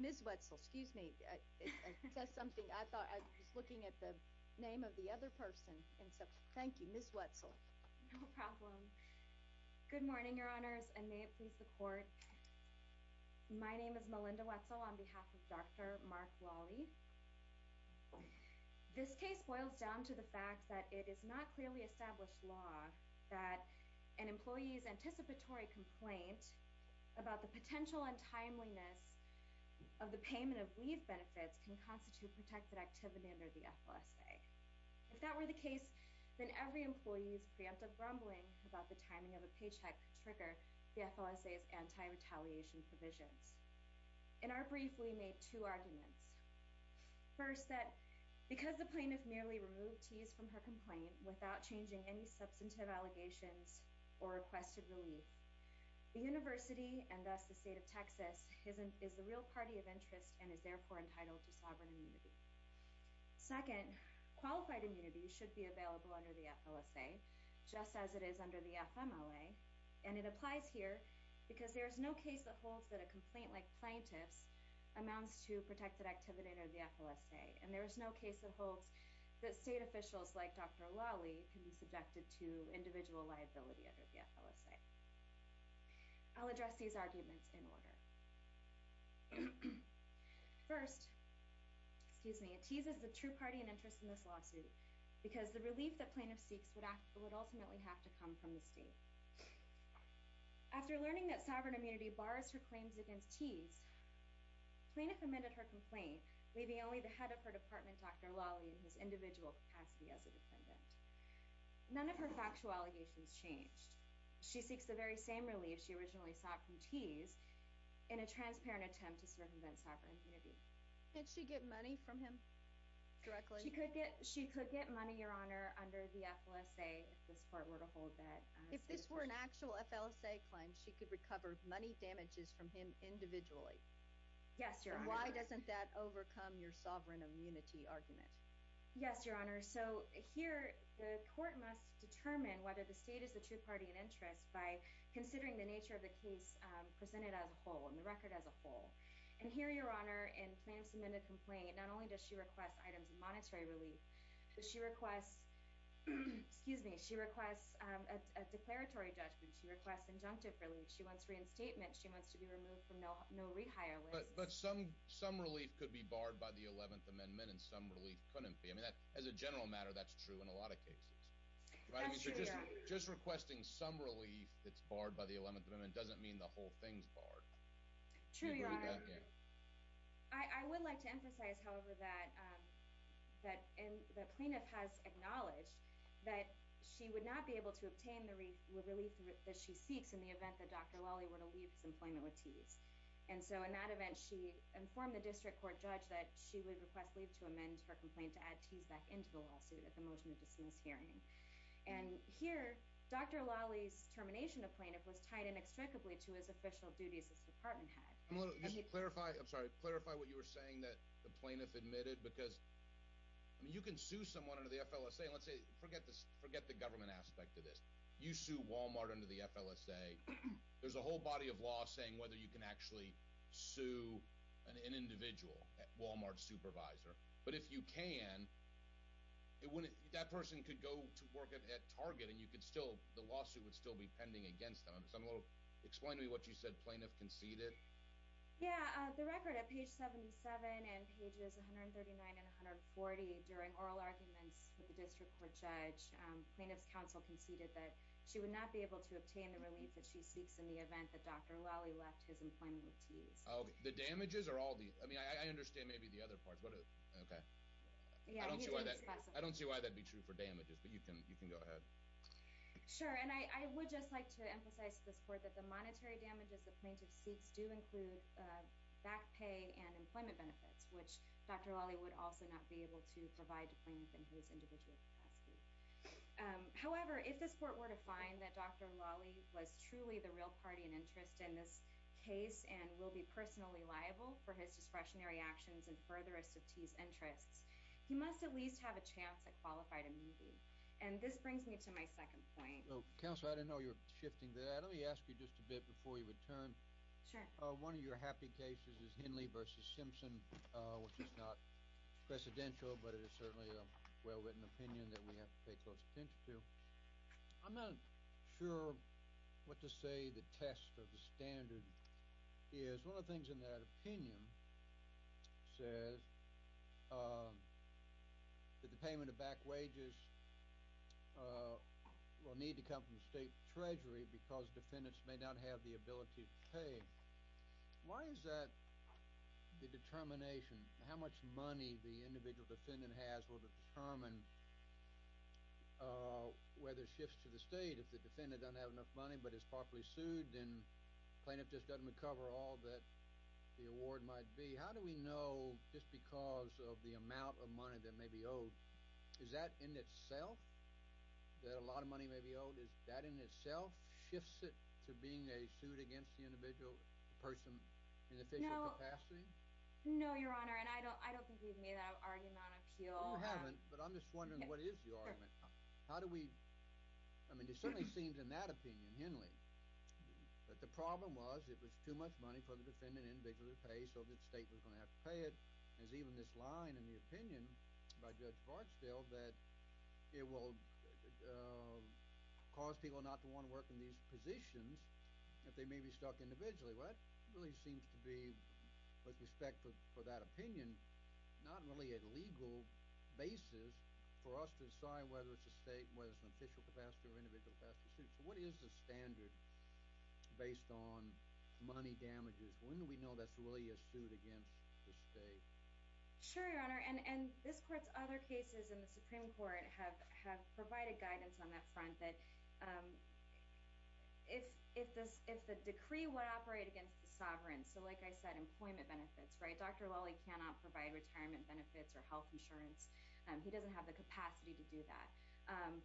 Ms. Wetzel, excuse me, I was looking at the name of the other person. Thank you, Ms. Wetzel. No problem. Good morning, Your Honors, and may it please the Court. My name is Melinda Wetzel on behalf of Dr. Mark Lawley. This case boils down to the fact that it is not clearly established law that an employee's anticipatory complaint about the potential untimeliness of the payment of leave benefits can constitute protected activity under the FLSA. If that were the case, then every employee's preemptive grumbling about the timing of a paycheck could trigger the FLSA's anti-retaliation provisions. In our brief, we made two arguments. First, that because the plaintiff merely removed Tease from her complaint without changing any substantive allegations or requested relief, the University, and thus the State of Texas, is the real party of interest and is therefore entitled to sovereign immunity. Second, qualified immunity should be available under the FLSA, just as it is under the FMLA, and it applies here because there is no case that holds that a complaint like plaintiff's amounts to protected activity under the FLSA, and there is no case that holds that State officials like Dr. Lawley can be subjected to individual liability under the FLSA. I'll address these arguments in order. First, Tease is the true party in interest in this lawsuit because the relief that plaintiff seeks would ultimately have to come from the State. After learning that sovereign immunity bars her claims against Tease, plaintiff amended her complaint, leaving only the head of her department, Dr. Lawley, in his individual capacity as a defendant. None of her factual allegations changed. She seeks the very same relief she originally sought from Tease in a transparent attempt to circumvent sovereign immunity. Did she get money from him directly? She could get money, Your Honor, under the FLSA if this court were to hold that. If this were an actual FLSA claim, she could recover money damages from him individually? Yes, Your Honor. Then why doesn't that overcome your sovereign immunity argument? Yes, Your Honor. So here the court must determine whether the State is the true party in interest by considering the nature of the case presented as a whole and the record as a whole. And here, Your Honor, in plaintiff's amended complaint, not only does she request items of monetary relief, but she requests a declaratory judgment. She requests injunctive relief. She wants reinstatement. She wants to be removed from no-rehire. But some relief could be barred by the 11th Amendment and some relief couldn't be. As a general matter, that's true in a lot of cases. That's true, Your Honor. Just requesting some relief that's barred by the 11th Amendment doesn't mean the whole thing's barred. True, Your Honor. I would like to emphasize, however, that the plaintiff has acknowledged that she would not be able to obtain the relief that she seeks in the event that Dr. Lawley were to leave his employment with Tees. And so in that event, she informed the district court judge that she would request leave to amend her complaint to add Tees back into the lawsuit at the motion to dismiss hearing. And here, Dr. Lawley's termination of plaintiff was tied inextricably to his official duties as department head. Clarify what you were saying that the plaintiff admitted because you can sue someone under the FLSA. Let's say, forget the government aspect of this. You sue Walmart under the FLSA. There's a whole body of law saying whether you can actually sue an individual, a Walmart supervisor. But if you can, that person could go to work at Target and the lawsuit would still be pending against them. Explain to me what you said plaintiff conceded. Yeah, the record at page 77 and pages 139 and 140 during oral arguments with the district court judge, plaintiff's counsel conceded that she would not be able to obtain the relief that she seeks in the event that Dr. Lawley left his employment with Tees. The damages are all the, I mean, I understand maybe the other parts. Okay. I don't see why that'd be true for damages, but you can go ahead. Sure. And I would just like to emphasize to this court that the monetary damages the plaintiff seeks do include back pay and employment benefits, which Dr. Lawley would also not be able to provide to plaintiff in his individual capacity. However, if this court were to find that Dr. Lawley was truly the real party and interest in this case and will be personally liable for his discretionary actions and further his interests, he must at least have a chance at qualified immunity. And this brings me to my second point. Counselor, I didn't know you were shifting that. Let me ask you just a bit before you return. Sure. One of your happy cases is Henley v. Simpson, which is not precedential, but it is certainly a well-written opinion that we have to pay close attention to. I'm not sure what to say the test of the standard is. One of the things in that opinion says that the payment of back wages will need to come from state treasury because defendants may not have the ability to pay. Why is that the determination? How much money the individual defendant has will determine whether it shifts to the state. If the defendant doesn't have enough money but is properly sued, then the plaintiff just doesn't recover all that the award might be. How do we know just because of the amount of money that may be owed, is that in itself that a lot of money may be owed? Does that in itself shift it to being a suit against the individual person in official capacity? No, Your Honor, and I don't think you've made that argument on appeal. No, I haven't, but I'm just wondering what is the argument. It certainly seems in that opinion, Henley, that the problem was it was too much money for the defendant individually to pay so the state was going to have to pay it. There's even this line in the opinion by Judge Bartsdale that it will cause people not to want to work in these positions if they may be stuck individually. Well, that really seems to be, with respect for that opinion, not really a legal basis for us to decide whether it's a state, whether it's an official capacity or individual capacity suit. So what is the standard based on money damages? When do we know that's really a suit against the state? Sure, Your Honor, and this Court's other cases in the Supreme Court have provided guidance on that front that if the decree would operate against the sovereign, so like I said, employment benefits, right? Dr. Lully cannot provide retirement benefits or health insurance. He doesn't have the capacity to do that.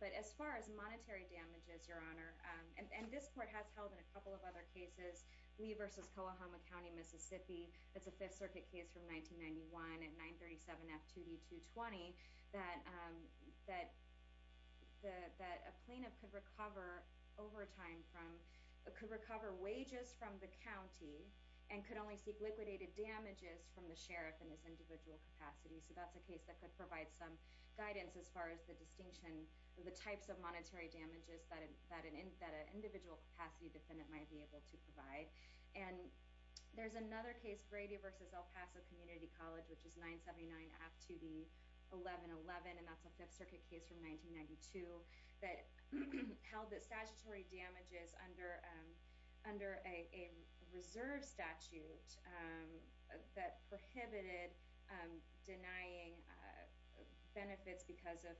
But as far as monetary damages, Your Honor, and this Court has held in a couple of other cases, Lee v. Coahoma County, Mississippi, it's a Fifth Circuit case from 1991 at 937 F. 2D. 220, that a plaintiff could recover overtime from, could recover wages from the county and could only seek liquidated damages from the sheriff in this individual capacity. So that's a case that could provide some guidance as far as the distinction of the types of monetary damages that an individual capacity defendant might be able to provide. And there's another case, Grady v. El Paso Community College, which is 979 F. 2D. 1111, and that's a Fifth Circuit case from 1992 that held that statutory damages under a reserve statute that prohibited denying benefits because of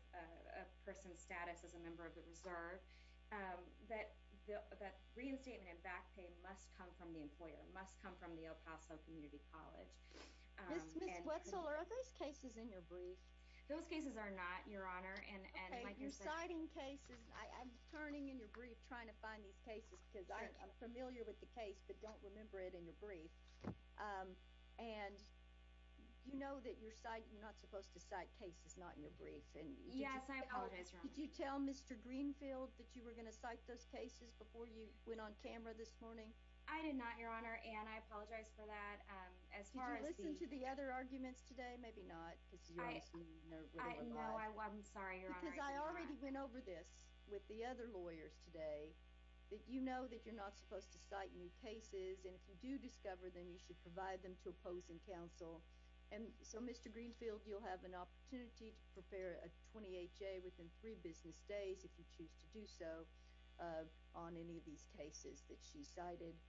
a person's status as a member of the reserve, that reinstatement and back pay must come from the employer, must come from the El Paso Community College. Ms. Wetzel, are those cases in your brief? Those cases are not, Your Honor. Okay, you're citing cases, I'm turning in your brief trying to find these cases because I'm familiar with the case but don't remember it in your brief. And you know that you're not supposed to cite cases not in your brief. Yes, I apologize, Your Honor. Did you tell Mr. Greenfield that you were going to cite those cases before you went on camera this morning? I did not, Your Honor, and I apologize for that. Did you listen to the other arguments today? Maybe not. No, I'm sorry, Your Honor. Because I already went over this with the other lawyers today that you know that you're not supposed to cite new cases, and if you do discover them, you should provide them to opposing counsel. And so, Mr. Greenfield, you'll have an opportunity to prepare a 28-J within three business days if you choose to do so on any of these cases that she cited.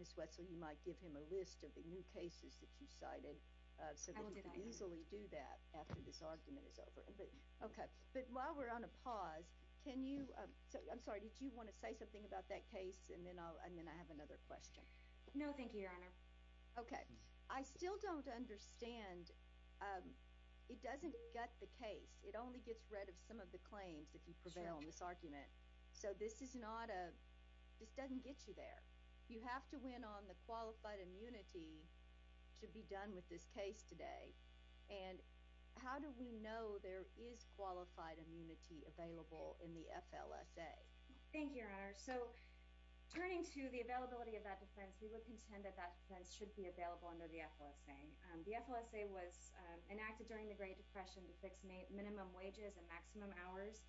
Ms. Wetzel, you might give him a list of the new cases that you cited so that he could easily do that after this argument is over. Okay. But while we're on a pause, can you – I'm sorry, did you want to say something about that case, and then I'll – and then I have another question. No, thank you, Your Honor. Okay. I still don't understand – it doesn't gut the case. It only gets rid of some of the claims if you prevail in this argument. Sure. So this is not a – this doesn't get you there. You have to win on the qualified immunity to be done with this case today, and how do we know there is qualified immunity available in the FLSA? Thank you, Your Honor. So turning to the availability of that defense, we would contend that that defense should be available under the FLSA. The FLSA was enacted during the Great Depression to fix minimum wages and maximum hours.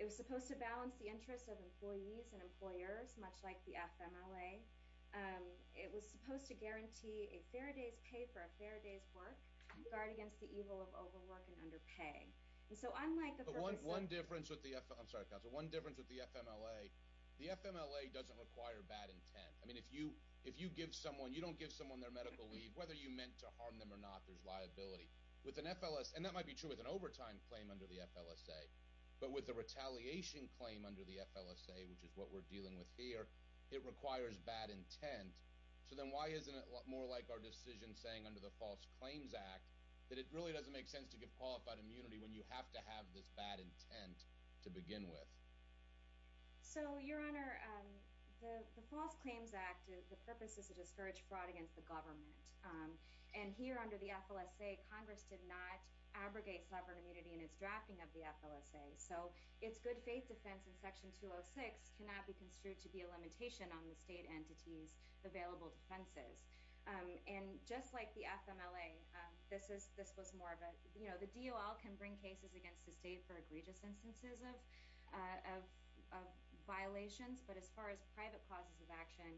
It was supposed to balance the interests of employees and employers, much like the FMLA. It was supposed to guarantee a fair day's pay for a fair day's work, guard against the evil of overwork and underpay. And so unlike the purpose of – But one difference with the – I'm sorry, counsel. One difference with the FMLA, the FMLA doesn't require bad intent. I mean, if you give someone – you don't give someone their medical leave, whether you meant to harm them or not, there's liability. With an FLSA – and that might be true with an overtime claim under the FLSA. But with a retaliation claim under the FLSA, which is what we're dealing with here, it requires bad intent. So then why isn't it more like our decision saying under the False Claims Act that it really doesn't make sense to give qualified immunity when you have to have this bad intent to begin with? So, Your Honor, the False Claims Act, the purpose is to discourage fraud against the government. And here under the FLSA, Congress did not abrogate sovereign immunity in its drafting of the FLSA. So its good faith defense in Section 206 cannot be construed to be a limitation on the state entity's available defenses. And just like the FMLA, this was more of a – the DOL can bring cases against the state for egregious instances of violations. But as far as private causes of action,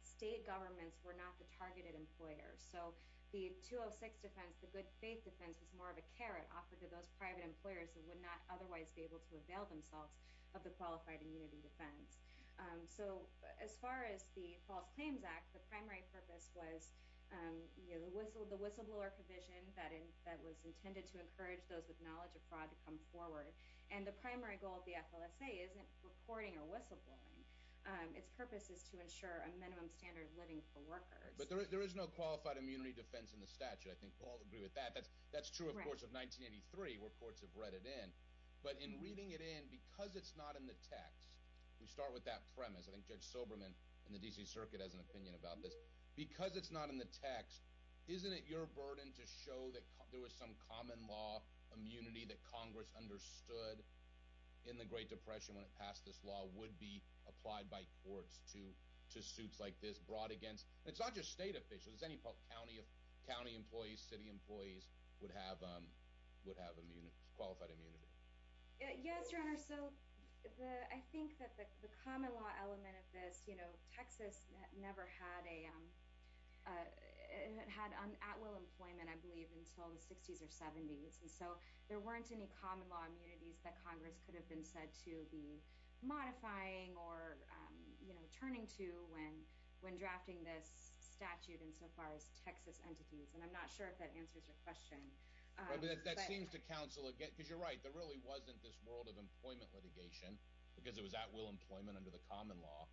state governments were not the targeted employers. So the 206 defense, the good faith defense, was more of a carrot offered to those private employers that would not otherwise be able to avail themselves of the qualified immunity defense. So as far as the False Claims Act, the primary purpose was the whistleblower provision that was intended to encourage those with knowledge of fraud to come forward. And the primary goal of the FLSA isn't reporting or whistleblowing. Its purpose is to ensure a minimum standard of living for workers. But there is no qualified immunity defense in the statute. I think we'll all agree with that. That's true, of course, of 1983 where courts have read it in. But in reading it in, because it's not in the text – we start with that premise. I think Judge Silberman in the D.C. Circuit has an opinion about this. But because it's not in the text, isn't it your burden to show that there was some common law immunity that Congress understood in the Great Depression when it passed this law would be applied by courts to suits like this brought against – and it's not just state officials. It's any county employees, city employees would have qualified immunity. Yes, Your Honor. So I think that the common law element of this – Texas never had a – had at-will employment, I believe, until the 60s or 70s. And so there weren't any common law immunities that Congress could have been said to be modifying or turning to when drafting this statute insofar as Texas entities. And I'm not sure if that answers your question. That seems to counsel – because you're right. There really wasn't this world of employment litigation because it was at-will employment under the common law.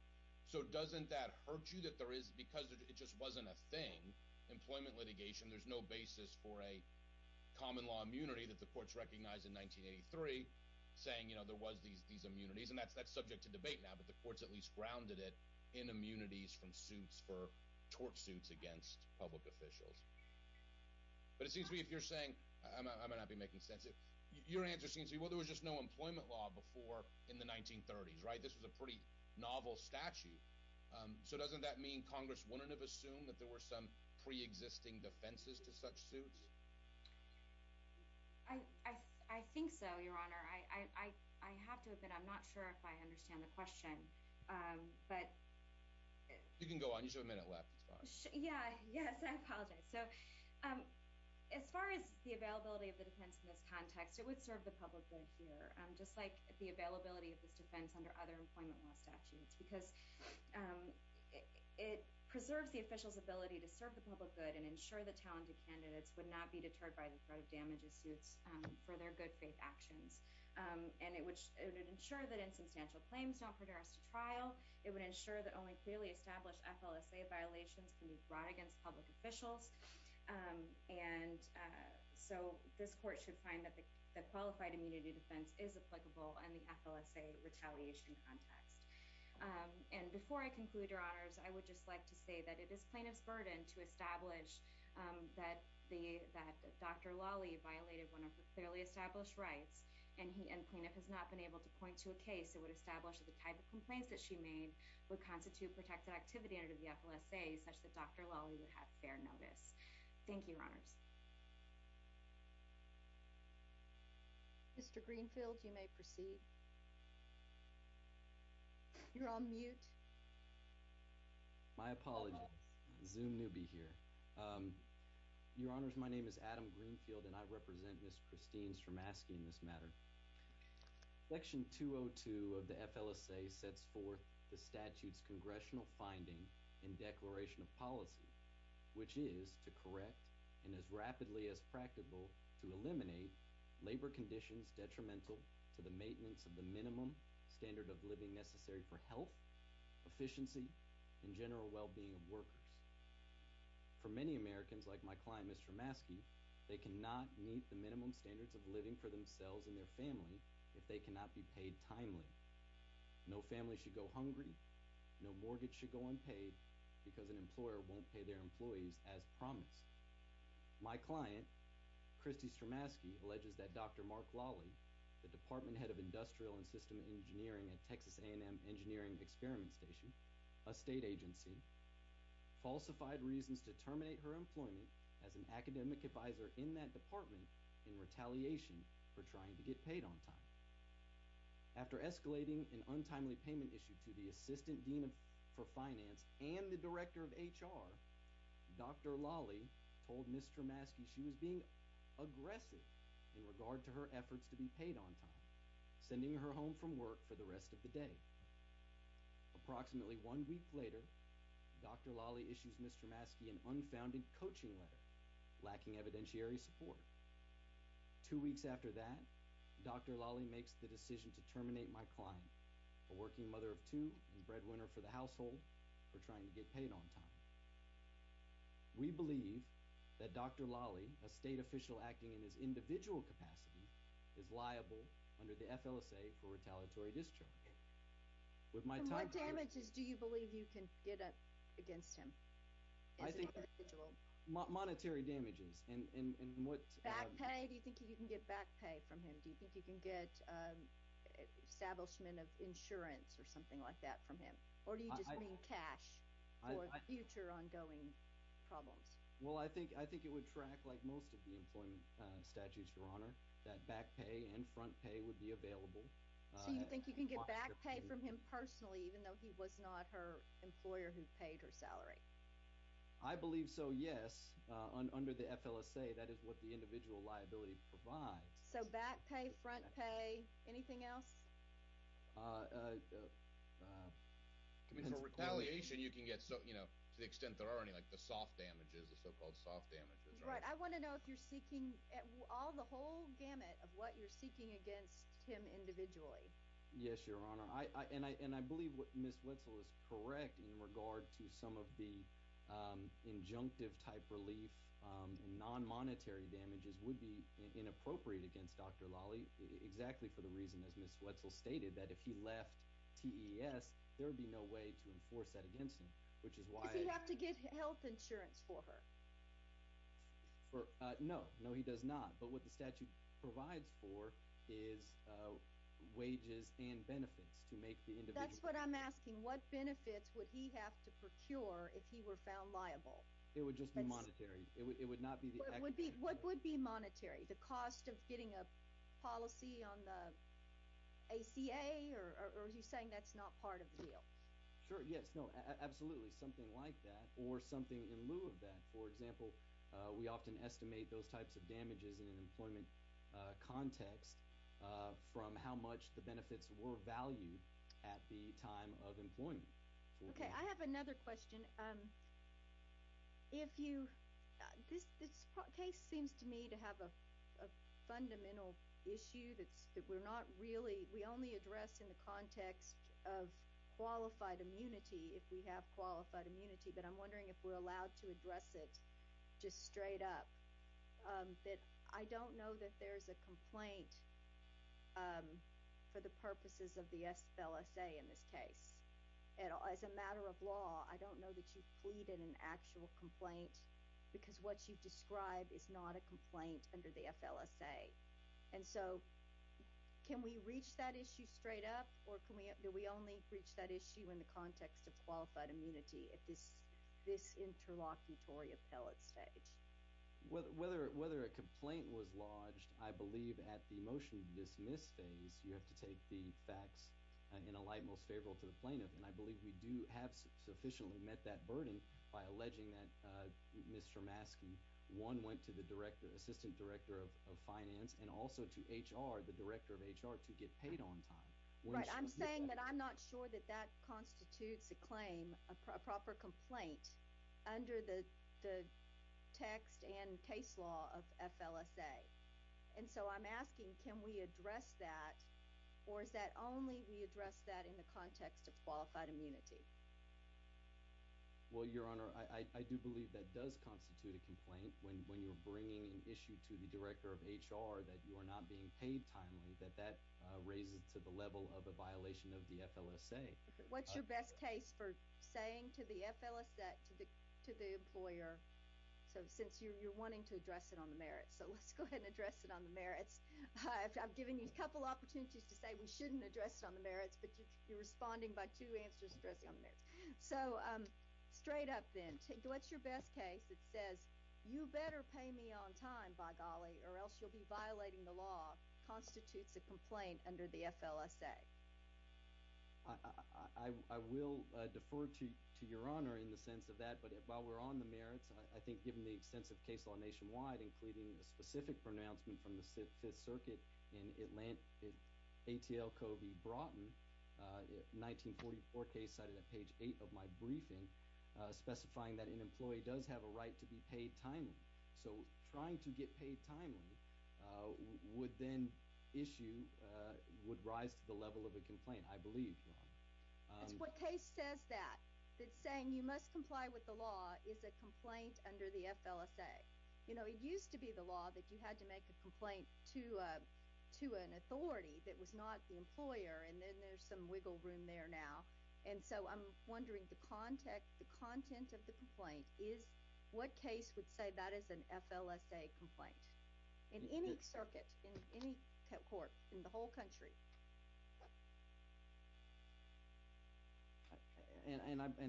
So doesn't that hurt you that there is – because it just wasn't a thing, employment litigation, there's no basis for a common law immunity that the courts recognized in 1983 saying there was these immunities? And that's subject to debate now, but the courts at least grounded it in immunities from suits for – tort suits against public officials. But it seems to me if you're saying – I might not be making sense. Your answer seems to be, well, there was just no employment law before in the 1930s, right? This was a pretty novel statute. So doesn't that mean Congress wouldn't have assumed that there were some preexisting defenses to such suits? I think so, Your Honor. I have to admit I'm not sure if I understand the question, but – You can go on. You just have a minute left. It's fine. Yeah, yes, I apologize. So as far as the availability of the defense in this context, it would serve the public good here, just like the availability of this defense under other employment law statutes, because it preserves the official's ability to serve the public good and ensure that talented candidates would not be deterred by the threat of damage of suits for their good-faith actions. And it would ensure that insubstantial claims don't produce a trial. It would ensure that only clearly established FLSA violations can be brought against public officials. And so this court should find that the qualified immunity defense is applicable in the FLSA retaliation context. And before I conclude, Your Honors, I would just like to say that it is plaintiff's burden to establish that Dr. Lawley violated one of the clearly established rights, and plaintiff has not been able to point to a case that would establish that the type of complaints that she made would constitute protected activity under the FLSA, such that Dr. Lawley would have fair notice. Thank you, Your Honors. Mr. Greenfield, you may proceed. You're on mute. My apologies. Zoom newbie here. Your Honors, my name is Adam Greenfield, and I represent Ms. Christine's from asking this matter. Section 202 of the FLSA sets forth the statute's congressional finding in Declaration of Policy, which is to correct, and as rapidly as practical, to eliminate labor conditions detrimental to the maintenance of the minimum standard of living necessary for health, efficiency, and general well-being of workers. For many Americans, like my client, Ms. Stramaski, they cannot meet the minimum standards of living for themselves and their family if they cannot be paid timely. No family should go hungry. No mortgage should go unpaid because an employer won't pay their employees as promised. My client, Christy Stramaski, alleges that Dr. Mark Lawley, the Department Head of Industrial and System Engineering at Texas A&M Engineering Experiment Station, a state agency, falsified reasons to terminate her employment as an academic advisor in that department in retaliation for trying to get paid on time. After escalating an untimely payment issue to the Assistant Dean for Finance and the Director of HR, Dr. Lawley told Ms. Stramaski she was being aggressive in regard to her efforts to be paid on time, sending her home from work for the rest of the day. Approximately one week later, Dr. Lawley issues Ms. Stramaski an unfounded coaching letter, lacking evidentiary support. Two weeks after that, Dr. Lawley makes the decision to terminate my client, a working mother of two and breadwinner for the household, for trying to get paid on time. We believe that Dr. Lawley, a state official acting in his individual capacity, is liable under the FLSA for retaliatory discharge. What damages do you believe you can get up against him? Monetary damages. Back pay? Do you think you can get back pay from him? Do you think you can get establishment of insurance or something like that from him? Or do you just mean cash for future ongoing problems? Well, I think it would track, like most of the employment statutes, Your Honor, that back pay and front pay would be available. So you think you can get back pay from him personally, even though he was not her employer who paid her salary? I believe so, yes. Under the FLSA, that is what the individual liability provides. So back pay, front pay, anything else? For retaliation, you can get, to the extent there are any, like the soft damages, the so-called soft damages. Right. I want to know if you're seeking all the whole gamut of what you're seeking against him individually. Yes, Your Honor. And I believe what Ms. Wetzel is correct in regard to some of the injunctive type relief, non-monetary damages would be inappropriate against Dr. Lawley, exactly for the reason, as Ms. Wetzel stated, that if he left TES, there would be no way to enforce that against him. Does he have to get health insurance for her? No. No, he does not. But what the statute provides for is wages and benefits to make the individual... That's what I'm asking. What benefits would he have to procure if he were found liable? It would just be monetary. It would not be the actual... What would be monetary? The cost of getting a policy on the ACA, or are you saying that's not part of the deal? Sure, yes, no, absolutely, something like that, or something in lieu of that. For example, we often estimate those types of damages in an employment context from how much the benefits were valued at the time of employment. Okay, I have another question. This case seems to me to have a fundamental issue that we're not really... We only address in the context of qualified immunity, if we have qualified immunity, but I'm wondering if we're allowed to address it just straight up. I don't know that there's a complaint for the purposes of the FLSA in this case. As a matter of law, I don't know that you've pleaded an actual complaint, because what you've described is not a complaint under the FLSA. And so, can we reach that issue straight up, or do we only reach that issue in the context of qualified immunity at this interlocutory appellate stage? Well, whether a complaint was lodged, I believe at the motion-dismiss phase, you have to take the facts in a light most favorable to the plaintiff, and I believe we do have sufficiently met that burden by alleging that Mr. Maskey, one, went to the assistant director of finance, and also to HR, the director of HR, to get paid on time. Right. I'm saying that I'm not sure that that constitutes a claim, a proper complaint, under the text and case law of FLSA. And so I'm asking, can we address that, or is that only we address that in the context of qualified immunity? Well, Your Honor, I do believe that does constitute a complaint when you're bringing an issue to the director of HR that you are not being paid timely, that that raises to the level of a violation of the FLSA. What's your best case for saying to the employer, since you're wanting to address it on the merits, so let's go ahead and address it on the merits. I've given you a couple opportunities to say we shouldn't address it on the merits, but you're responding by two answers addressing it on the merits. So, straight up then, what's your best case that says, you better pay me on time, by golly, or else you'll be violating the law, constitutes a complaint under the FLSA? I will defer to Your Honor in the sense of that, but while we're on the merits, I think given the extensive case law nationwide, including the specific pronouncement from the 5th Circuit in ATL-Covey-Broughton, a 1944 case cited at page 8 of my briefing, specifying that an employee does have a right to be paid timely, so trying to get paid timely would then issue, would rise to the level of a complaint, I believe, Your Honor. That's what case says that, that saying you must comply with the law is a complaint under the FLSA. You know, it used to be the law that you had to make a complaint to an authority that was not the employer, and then there's some wiggle room there now, and so I'm wondering the content of the complaint is, what case would say that is an FLSA complaint? In any circuit, in any court, in the whole country. And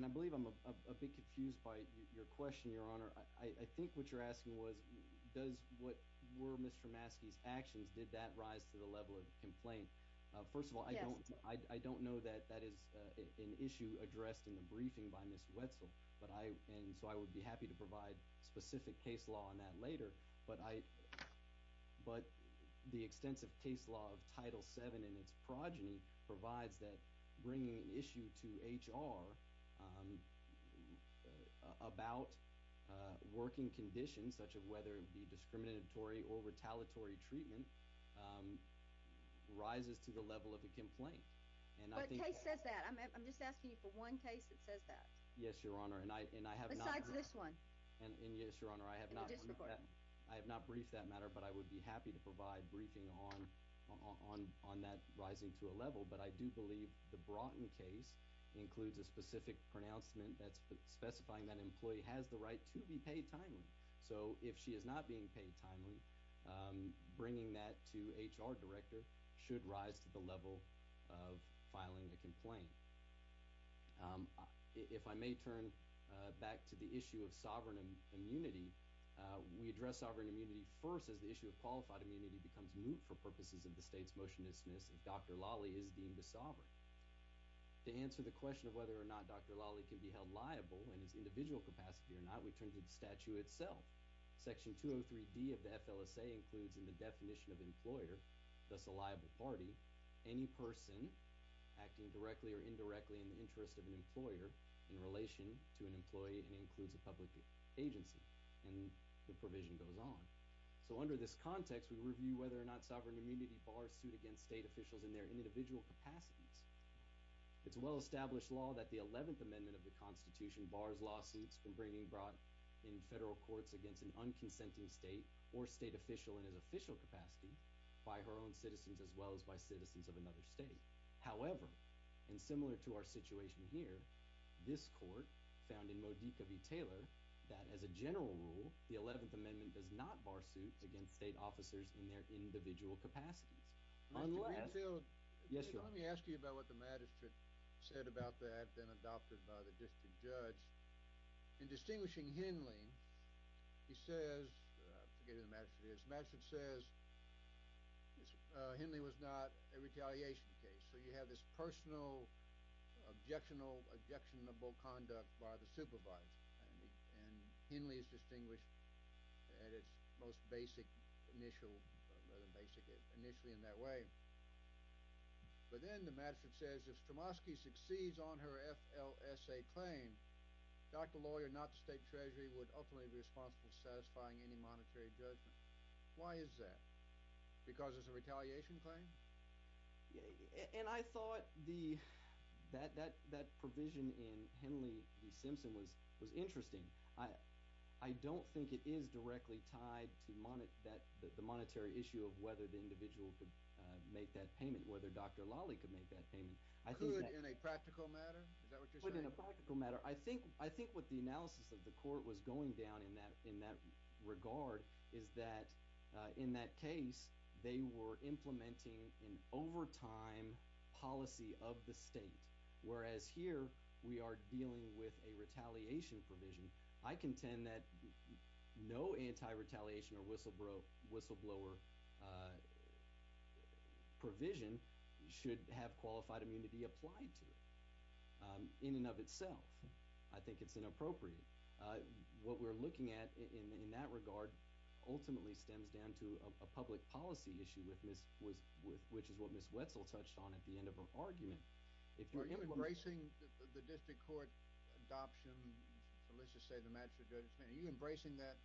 I believe I'm a bit confused by your question, Your Honor. I think what you're asking was, does what, were Mr. Maskey's actions, did that rise to the level of a complaint? First of all, I don't know that that is an issue addressed in the briefing by Ms. Wetzel, and so I would be happy to provide specific case law on that later, but I, but the extensive case law of Title VII and its progeny provides that bringing an issue to HR about working conditions, such as whether it be discriminatory or retaliatory treatment, rises to the level of a complaint. But case says that. I'm just asking you for one case that says that. Yes, Your Honor, and I have not. Besides this one. And yes, Your Honor, I have not. I have not briefed that matter, but I would be happy to provide briefing on that rising to a level, but I do believe the Broughton case includes a specific pronouncement that's specifying that an employee has the right to be paid timely. So if she is not being paid timely, bringing that to HR director should rise to the level of filing a complaint. If I may turn back to the issue of sovereign immunity, we address sovereign immunity first as the issue of qualified immunity becomes moot for purposes of the state's motion to dismiss if Dr. Lawley is deemed a sovereign. To answer the question of whether or not Dr. Lawley can be held liable in his individual capacity or not, we turn to the statute itself. Section 203D of the FLSA includes in the definition of employer, thus a liable party, any person acting directly or indirectly in the interest of an employer in relation to an employee and includes a public agency. And the provision goes on. So under this context, we review whether or not sovereign immunity bars suit against state officials in their individual capacities. It's a well-established law that the 11th Amendment of the Constitution bars lawsuits from being brought in federal courts against an unconsenting state or state official in his official capacity by her own citizens as well as by citizens of another state. However, and similar to our situation here, this court found in Modica v. Taylor that as a general rule, the 11th Amendment does not bar suits against state officers in their individual capacities. Mr. Greenfield, let me ask you about what the magistrate said about that, then adopted by the district judge. In distinguishing Henley, he says – I forget who the magistrate is – the magistrate says Henley was not a retaliation case. So you have this personal, objectionable conduct by the supervisor, and Henley is distinguished at its most basic, initially in that way. But then the magistrate says if Stramoski succeeds on her FLSA claim, Dr. Lawyer, not the state treasury, would ultimately be responsible for satisfying any monetary judgment. Why is that? Because it's a retaliation claim? And I thought the – that provision in Henley v. Simpson was interesting. I don't think it is directly tied to the monetary issue of whether the individual could make that payment, whether Dr. Lawley could make that payment. Could in a practical matter? Is that what you're saying? I think what the analysis of the court was going down in that regard is that in that case, they were implementing an overtime policy of the state, whereas here we are dealing with a retaliation provision. I contend that no anti-retaliation or whistleblower provision should have qualified immunity applied to it. In and of itself, I think it's inappropriate. What we're looking at in that regard ultimately stems down to a public policy issue with Ms. – which is what Ms. Wetzel touched on at the end of her argument. Are you embracing the district court adoption – so let's just say the magistrate – are you embracing that,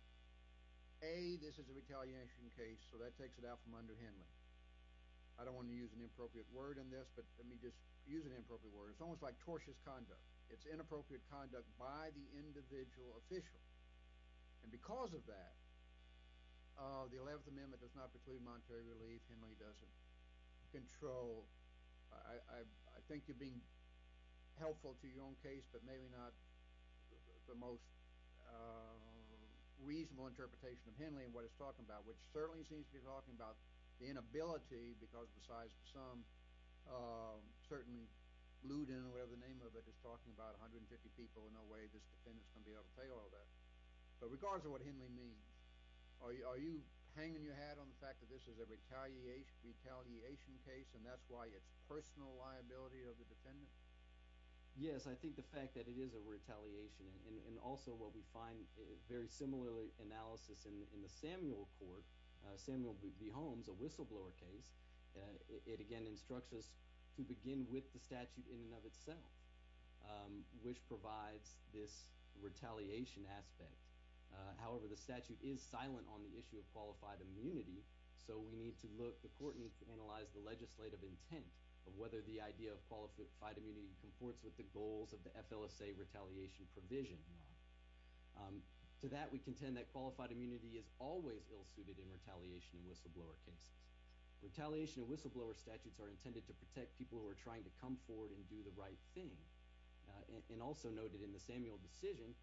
A, this is a retaliation case, so that takes it out from under Henley? I don't want to use an inappropriate word in this, but let me just use an inappropriate word. It's almost like tortious conduct. It's inappropriate conduct by the individual official. And because of that, the 11th Amendment does not preclude monetary relief. Henley doesn't control. So I think you're being helpful to your own case, but maybe not the most reasonable interpretation of Henley and what he's talking about, which certainly seems to be talking about the inability, because besides some certainly lewd – whatever the name of it – is talking about 150 people. So in no way this defendant is going to be able to take all that. But regardless of what Henley means, are you hanging your hat on the fact that this is a retaliation case, and that's why it's personal liability of the defendant? Yes, I think the fact that it is a retaliation, and also what we find a very similar analysis in the Samuel Court – Samuel v. Holmes, a whistleblower case. It again instructs us to begin with the statute in and of itself, which provides this retaliation aspect. However, the statute is silent on the issue of qualified immunity, so we need to look – the court needs to analyze the legislative intent of whether the idea of qualified immunity comports with the goals of the FLSA retaliation provision. To that, we contend that qualified immunity is always ill-suited in retaliation and whistleblower cases. Retaliation and whistleblower statutes are intended to protect people who are trying to come forward and do the right thing. And also noted in the Samuel decision,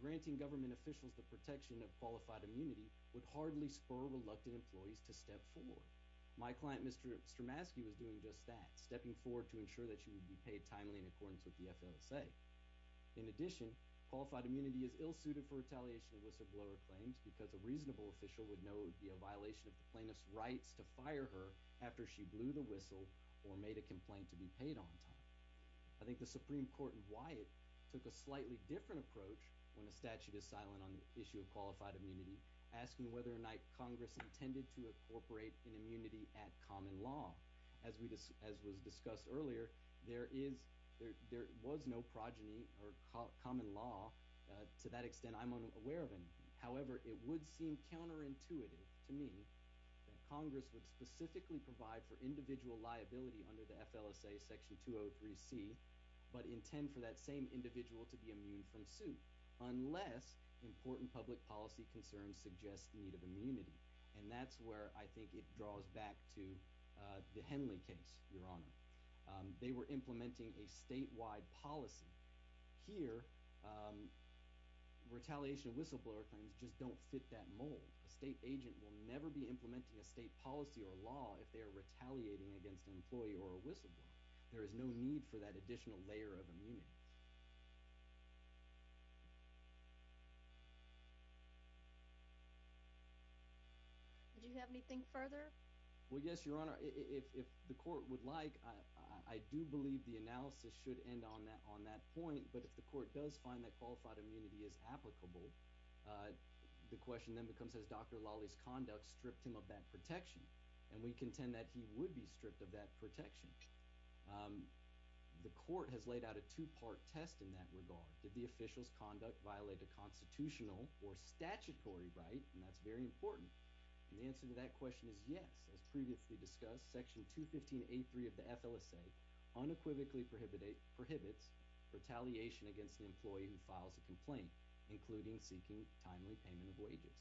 granting government officials the protection of qualified immunity would hardly spur reluctant employees to step forward. My client, Mr. Stramaski, was doing just that, stepping forward to ensure that she would be paid timely in accordance with the FLSA. In addition, qualified immunity is ill-suited for retaliation and whistleblower claims because a reasonable official would know it would be a violation of the plaintiff's rights to fire her after she blew the whistle or made a complaint to be paid on time. I think the Supreme Court in Wyatt took a slightly different approach when the statute is silent on the issue of qualified immunity, asking whether or not Congress intended to incorporate an immunity at common law. As was discussed earlier, there was no progeny or common law. To that extent, I'm unaware of it. However, it would seem counterintuitive to me that Congress would specifically provide for individual liability under the FLSA Section 203C but intend for that same individual to be immune from suit unless important public policy concerns suggest the need of immunity. And that's where I think it draws back to the Henley case, Your Honor. They were implementing a statewide policy. Here, retaliation of whistleblower claims just don't fit that mold. A state agent will never be implementing a state policy or law if they are retaliating against an employee or a whistleblower. There is no need for that additional layer of immunity. Do you have anything further? Well, yes, Your Honor. If the court would like, I do believe the analysis should end on that point. But if the court does find that qualified immunity is applicable, the question then becomes, has Dr. Lawley's conduct stripped him of that protection? And we contend that he would be stripped of that protection. The court has laid out a two-part test in that regard. Did the official's conduct violate a constitutional or statutory right? And that's very important. And the answer to that question is yes. As previously discussed, Section 215A.3 of the FLSA unequivocally prohibits retaliation against the employee who files a complaint, including seeking timely payment of wages.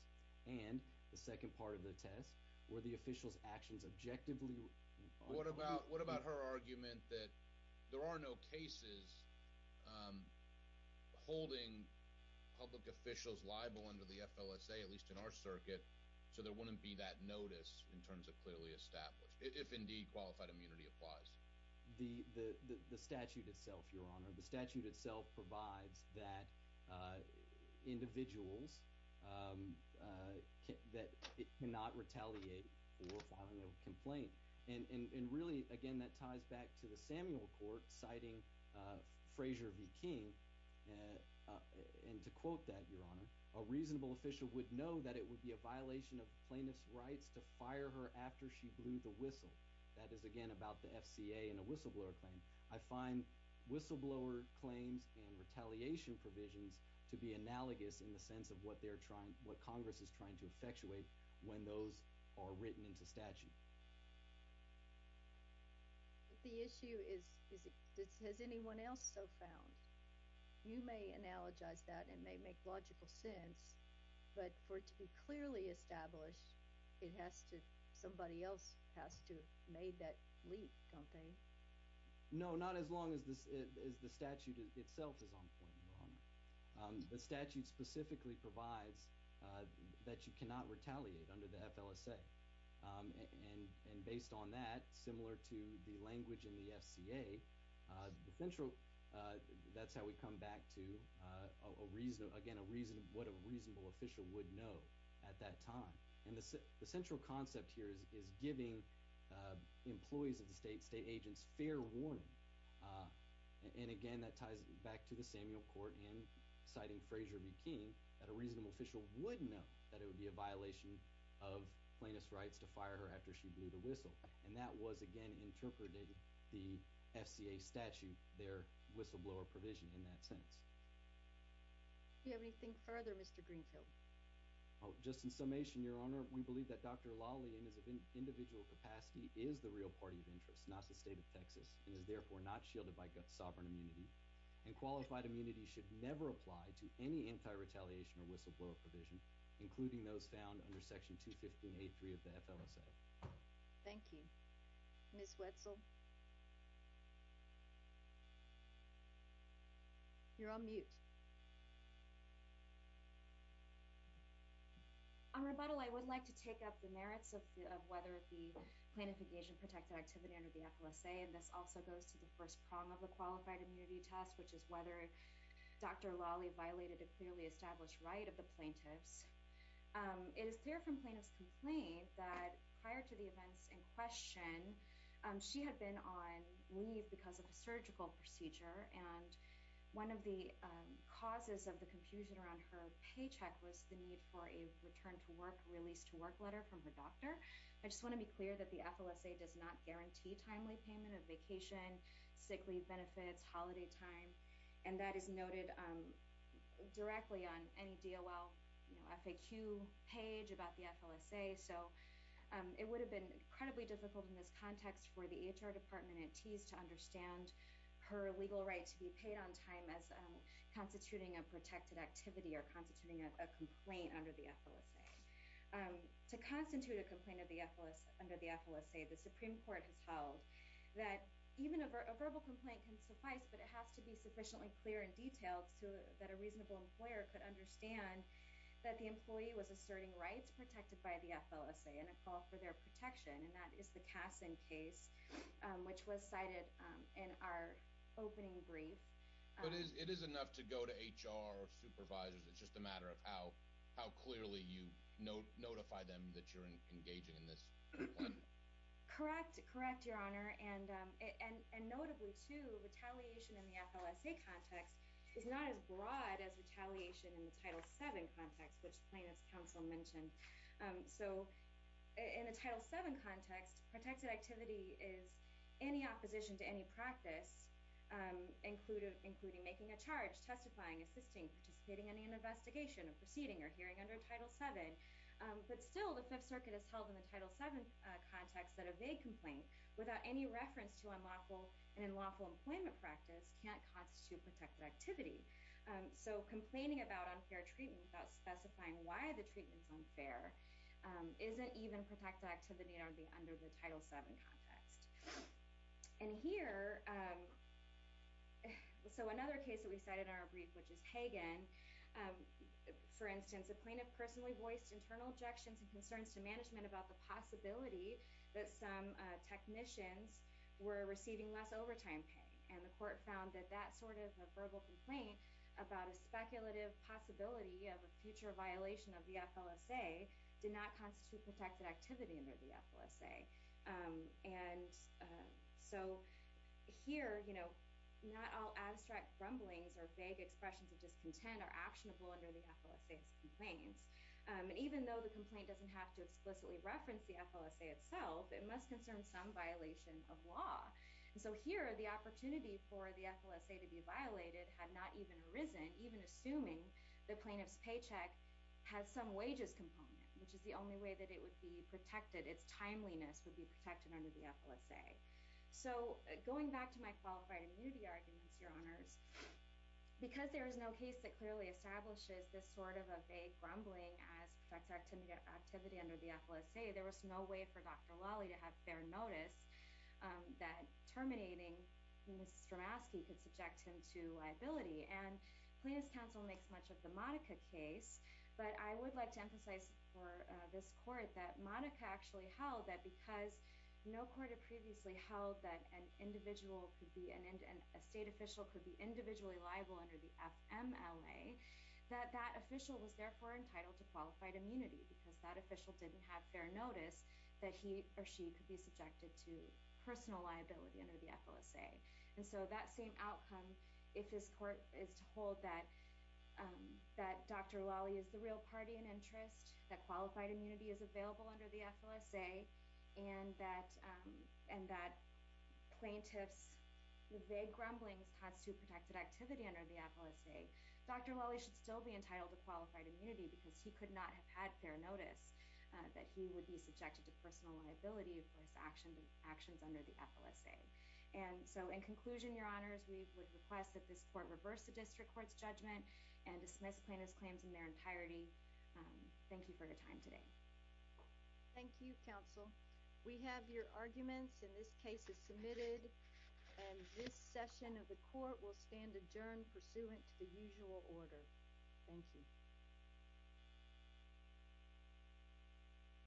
And the second part of the test, were the official's actions objectively… What about her argument that there are no cases holding public officials liable under the FLSA, at least in our circuit, so there wouldn't be that notice in terms of clearly established, if indeed qualified immunity applies? The statute itself, Your Honor. The statute itself provides that individuals cannot retaliate for filing a complaint. And really, again, that ties back to the Samuel Court citing Frazier v. King. And to quote that, Your Honor, a reasonable official would know that it would be a violation of plaintiff's rights to fire her after she blew the whistle. That is, again, about the FCA and a whistleblower claim. I find whistleblower claims and retaliation provisions to be analogous in the sense of what Congress is trying to effectuate when those are written into statute. The issue is, has anyone else so found? You may analogize that. It may make logical sense. But for it to be clearly established, it has to – somebody else has to have made that leap, don't they? No, not as long as the statute itself is on point, Your Honor. The statute specifically provides that you cannot retaliate under the FLSA. And based on that, similar to the language in the FCA, that's how we come back to, again, what a reasonable official would know at that time. And the central concept here is giving employees of the state, state agents, fair warning. And again, that ties back to the Samuel Court in citing Frazier v. Keene, that a reasonable official would know that it would be a violation of plaintiff's rights to fire her after she blew the whistle. And that was, again, interpreting the FCA statute, their whistleblower provision in that sense. Do you have anything further, Mr. Greenfield? Just in summation, Your Honor, we believe that Dr. Lawley, in his individual capacity, is the real party of interest, not the state of Texas, and is therefore not shielded by sovereign immunity. And qualified immunity should never apply to any anti-retaliation or whistleblower provision, including those found under Section 215.83 of the FLSA. Thank you. Ms. Wetzel? You're on mute. On rebuttal, I would like to take up the merits of whether the plaintiff engaged in protected activity under the FLSA. And this also goes to the first prong of the qualified immunity test, which is whether Dr. Lawley violated a clearly established right of the plaintiffs. It is clear from plaintiff's complaint that prior to the events in question, she had been on leave because of a surgical procedure, and one of the causes of the confusion around her paycheck was the need for a return-to-work, release-to-work letter from her doctor. I just want to be clear that the FLSA does not guarantee timely payment of vacation, sick leave benefits, holiday time, and that is noted directly on any DOL, you know, FAQ page about the FLSA. So it would have been incredibly difficult in this context for the EHR Department and TEAS to understand her legal right to be paid on time as constituting a protected activity or constituting a complaint under the FLSA. To constitute a complaint under the FLSA, the Supreme Court has held that even a verbal complaint can suffice, but it has to be sufficiently clear and detailed so that a reasonable employer could understand that the employee was asserting rights protected by the FLSA in a call for their protection, and that is the Kasson case, which was cited in our opening brief. But it is enough to go to HR or supervisors. It's just a matter of how clearly you notify them that you're engaging in this complaint. Correct, correct, Your Honor, and notably, too, retaliation in the FLSA context is not as broad as retaliation in the Title VII context, which plaintiffs' counsel mentioned. So in the Title VII context, protected activity is any opposition to any practice, including making a charge, testifying, assisting, participating in an investigation, a proceeding, or hearing under Title VII. But still, the Fifth Circuit has held in the Title VII context that a vague complaint without any reference to an unlawful and unlawful employment practice can't constitute protected activity. So complaining about unfair treatment without specifying why the treatment is unfair isn't even protected activity under the Title VII context. And here, so another case that we cited in our brief, which is Hagen. For instance, a plaintiff personally voiced internal objections and concerns to management about the possibility that some technicians were receiving less overtime pay. And the court found that that sort of a verbal complaint about a speculative possibility of a future violation of the FLSA did not constitute protected activity under the FLSA. And so here, you know, not all abstract grumblings or vague expressions of discontent are actionable under the FLSA's complaints. And even though the complaint doesn't have to explicitly reference the FLSA itself, it must concern some violation of law. And so here, the opportunity for the FLSA to be violated had not even arisen, even assuming the plaintiff's paycheck has some wages component, which is the only way that it would be protected. Its timeliness would be protected under the FLSA. So going back to my qualified immunity arguments, Your Honors, because there is no case that clearly establishes this sort of a vague grumbling as protected activity under the FLSA, there was no way for Dr. Lawley to have fair notice that terminating Mrs. Stramaski could subject him to liability. And Plaintiff's Counsel makes much of the Monica case, but I would like to emphasize for this court that Monica actually held that because no court had previously held that an individual could be, a state official could be individually liable under the FMLA, that that official was therefore entitled to qualified immunity because that official didn't have fair notice that he or she could be subjected to personal liability under the FLSA. And so that same outcome, if this court is to hold that Dr. Lawley is the real party in interest, that qualified immunity is available under the FLSA, and that plaintiff's vague grumblings cause too protected activity under the FLSA, Dr. Lawley should still be entitled to qualified immunity because he could not have had fair notice that he would be subjected to personal liability for his actions under the FLSA. And so in conclusion, Your Honors, we would request that this court reverse the district court's judgment and dismiss plaintiff's claims in their entirety. Thank you for your time today. Thank you, Counsel. We have your arguments, and this case is submitted, and this session of the court will stand adjourned pursuant to the usual order. Thank you.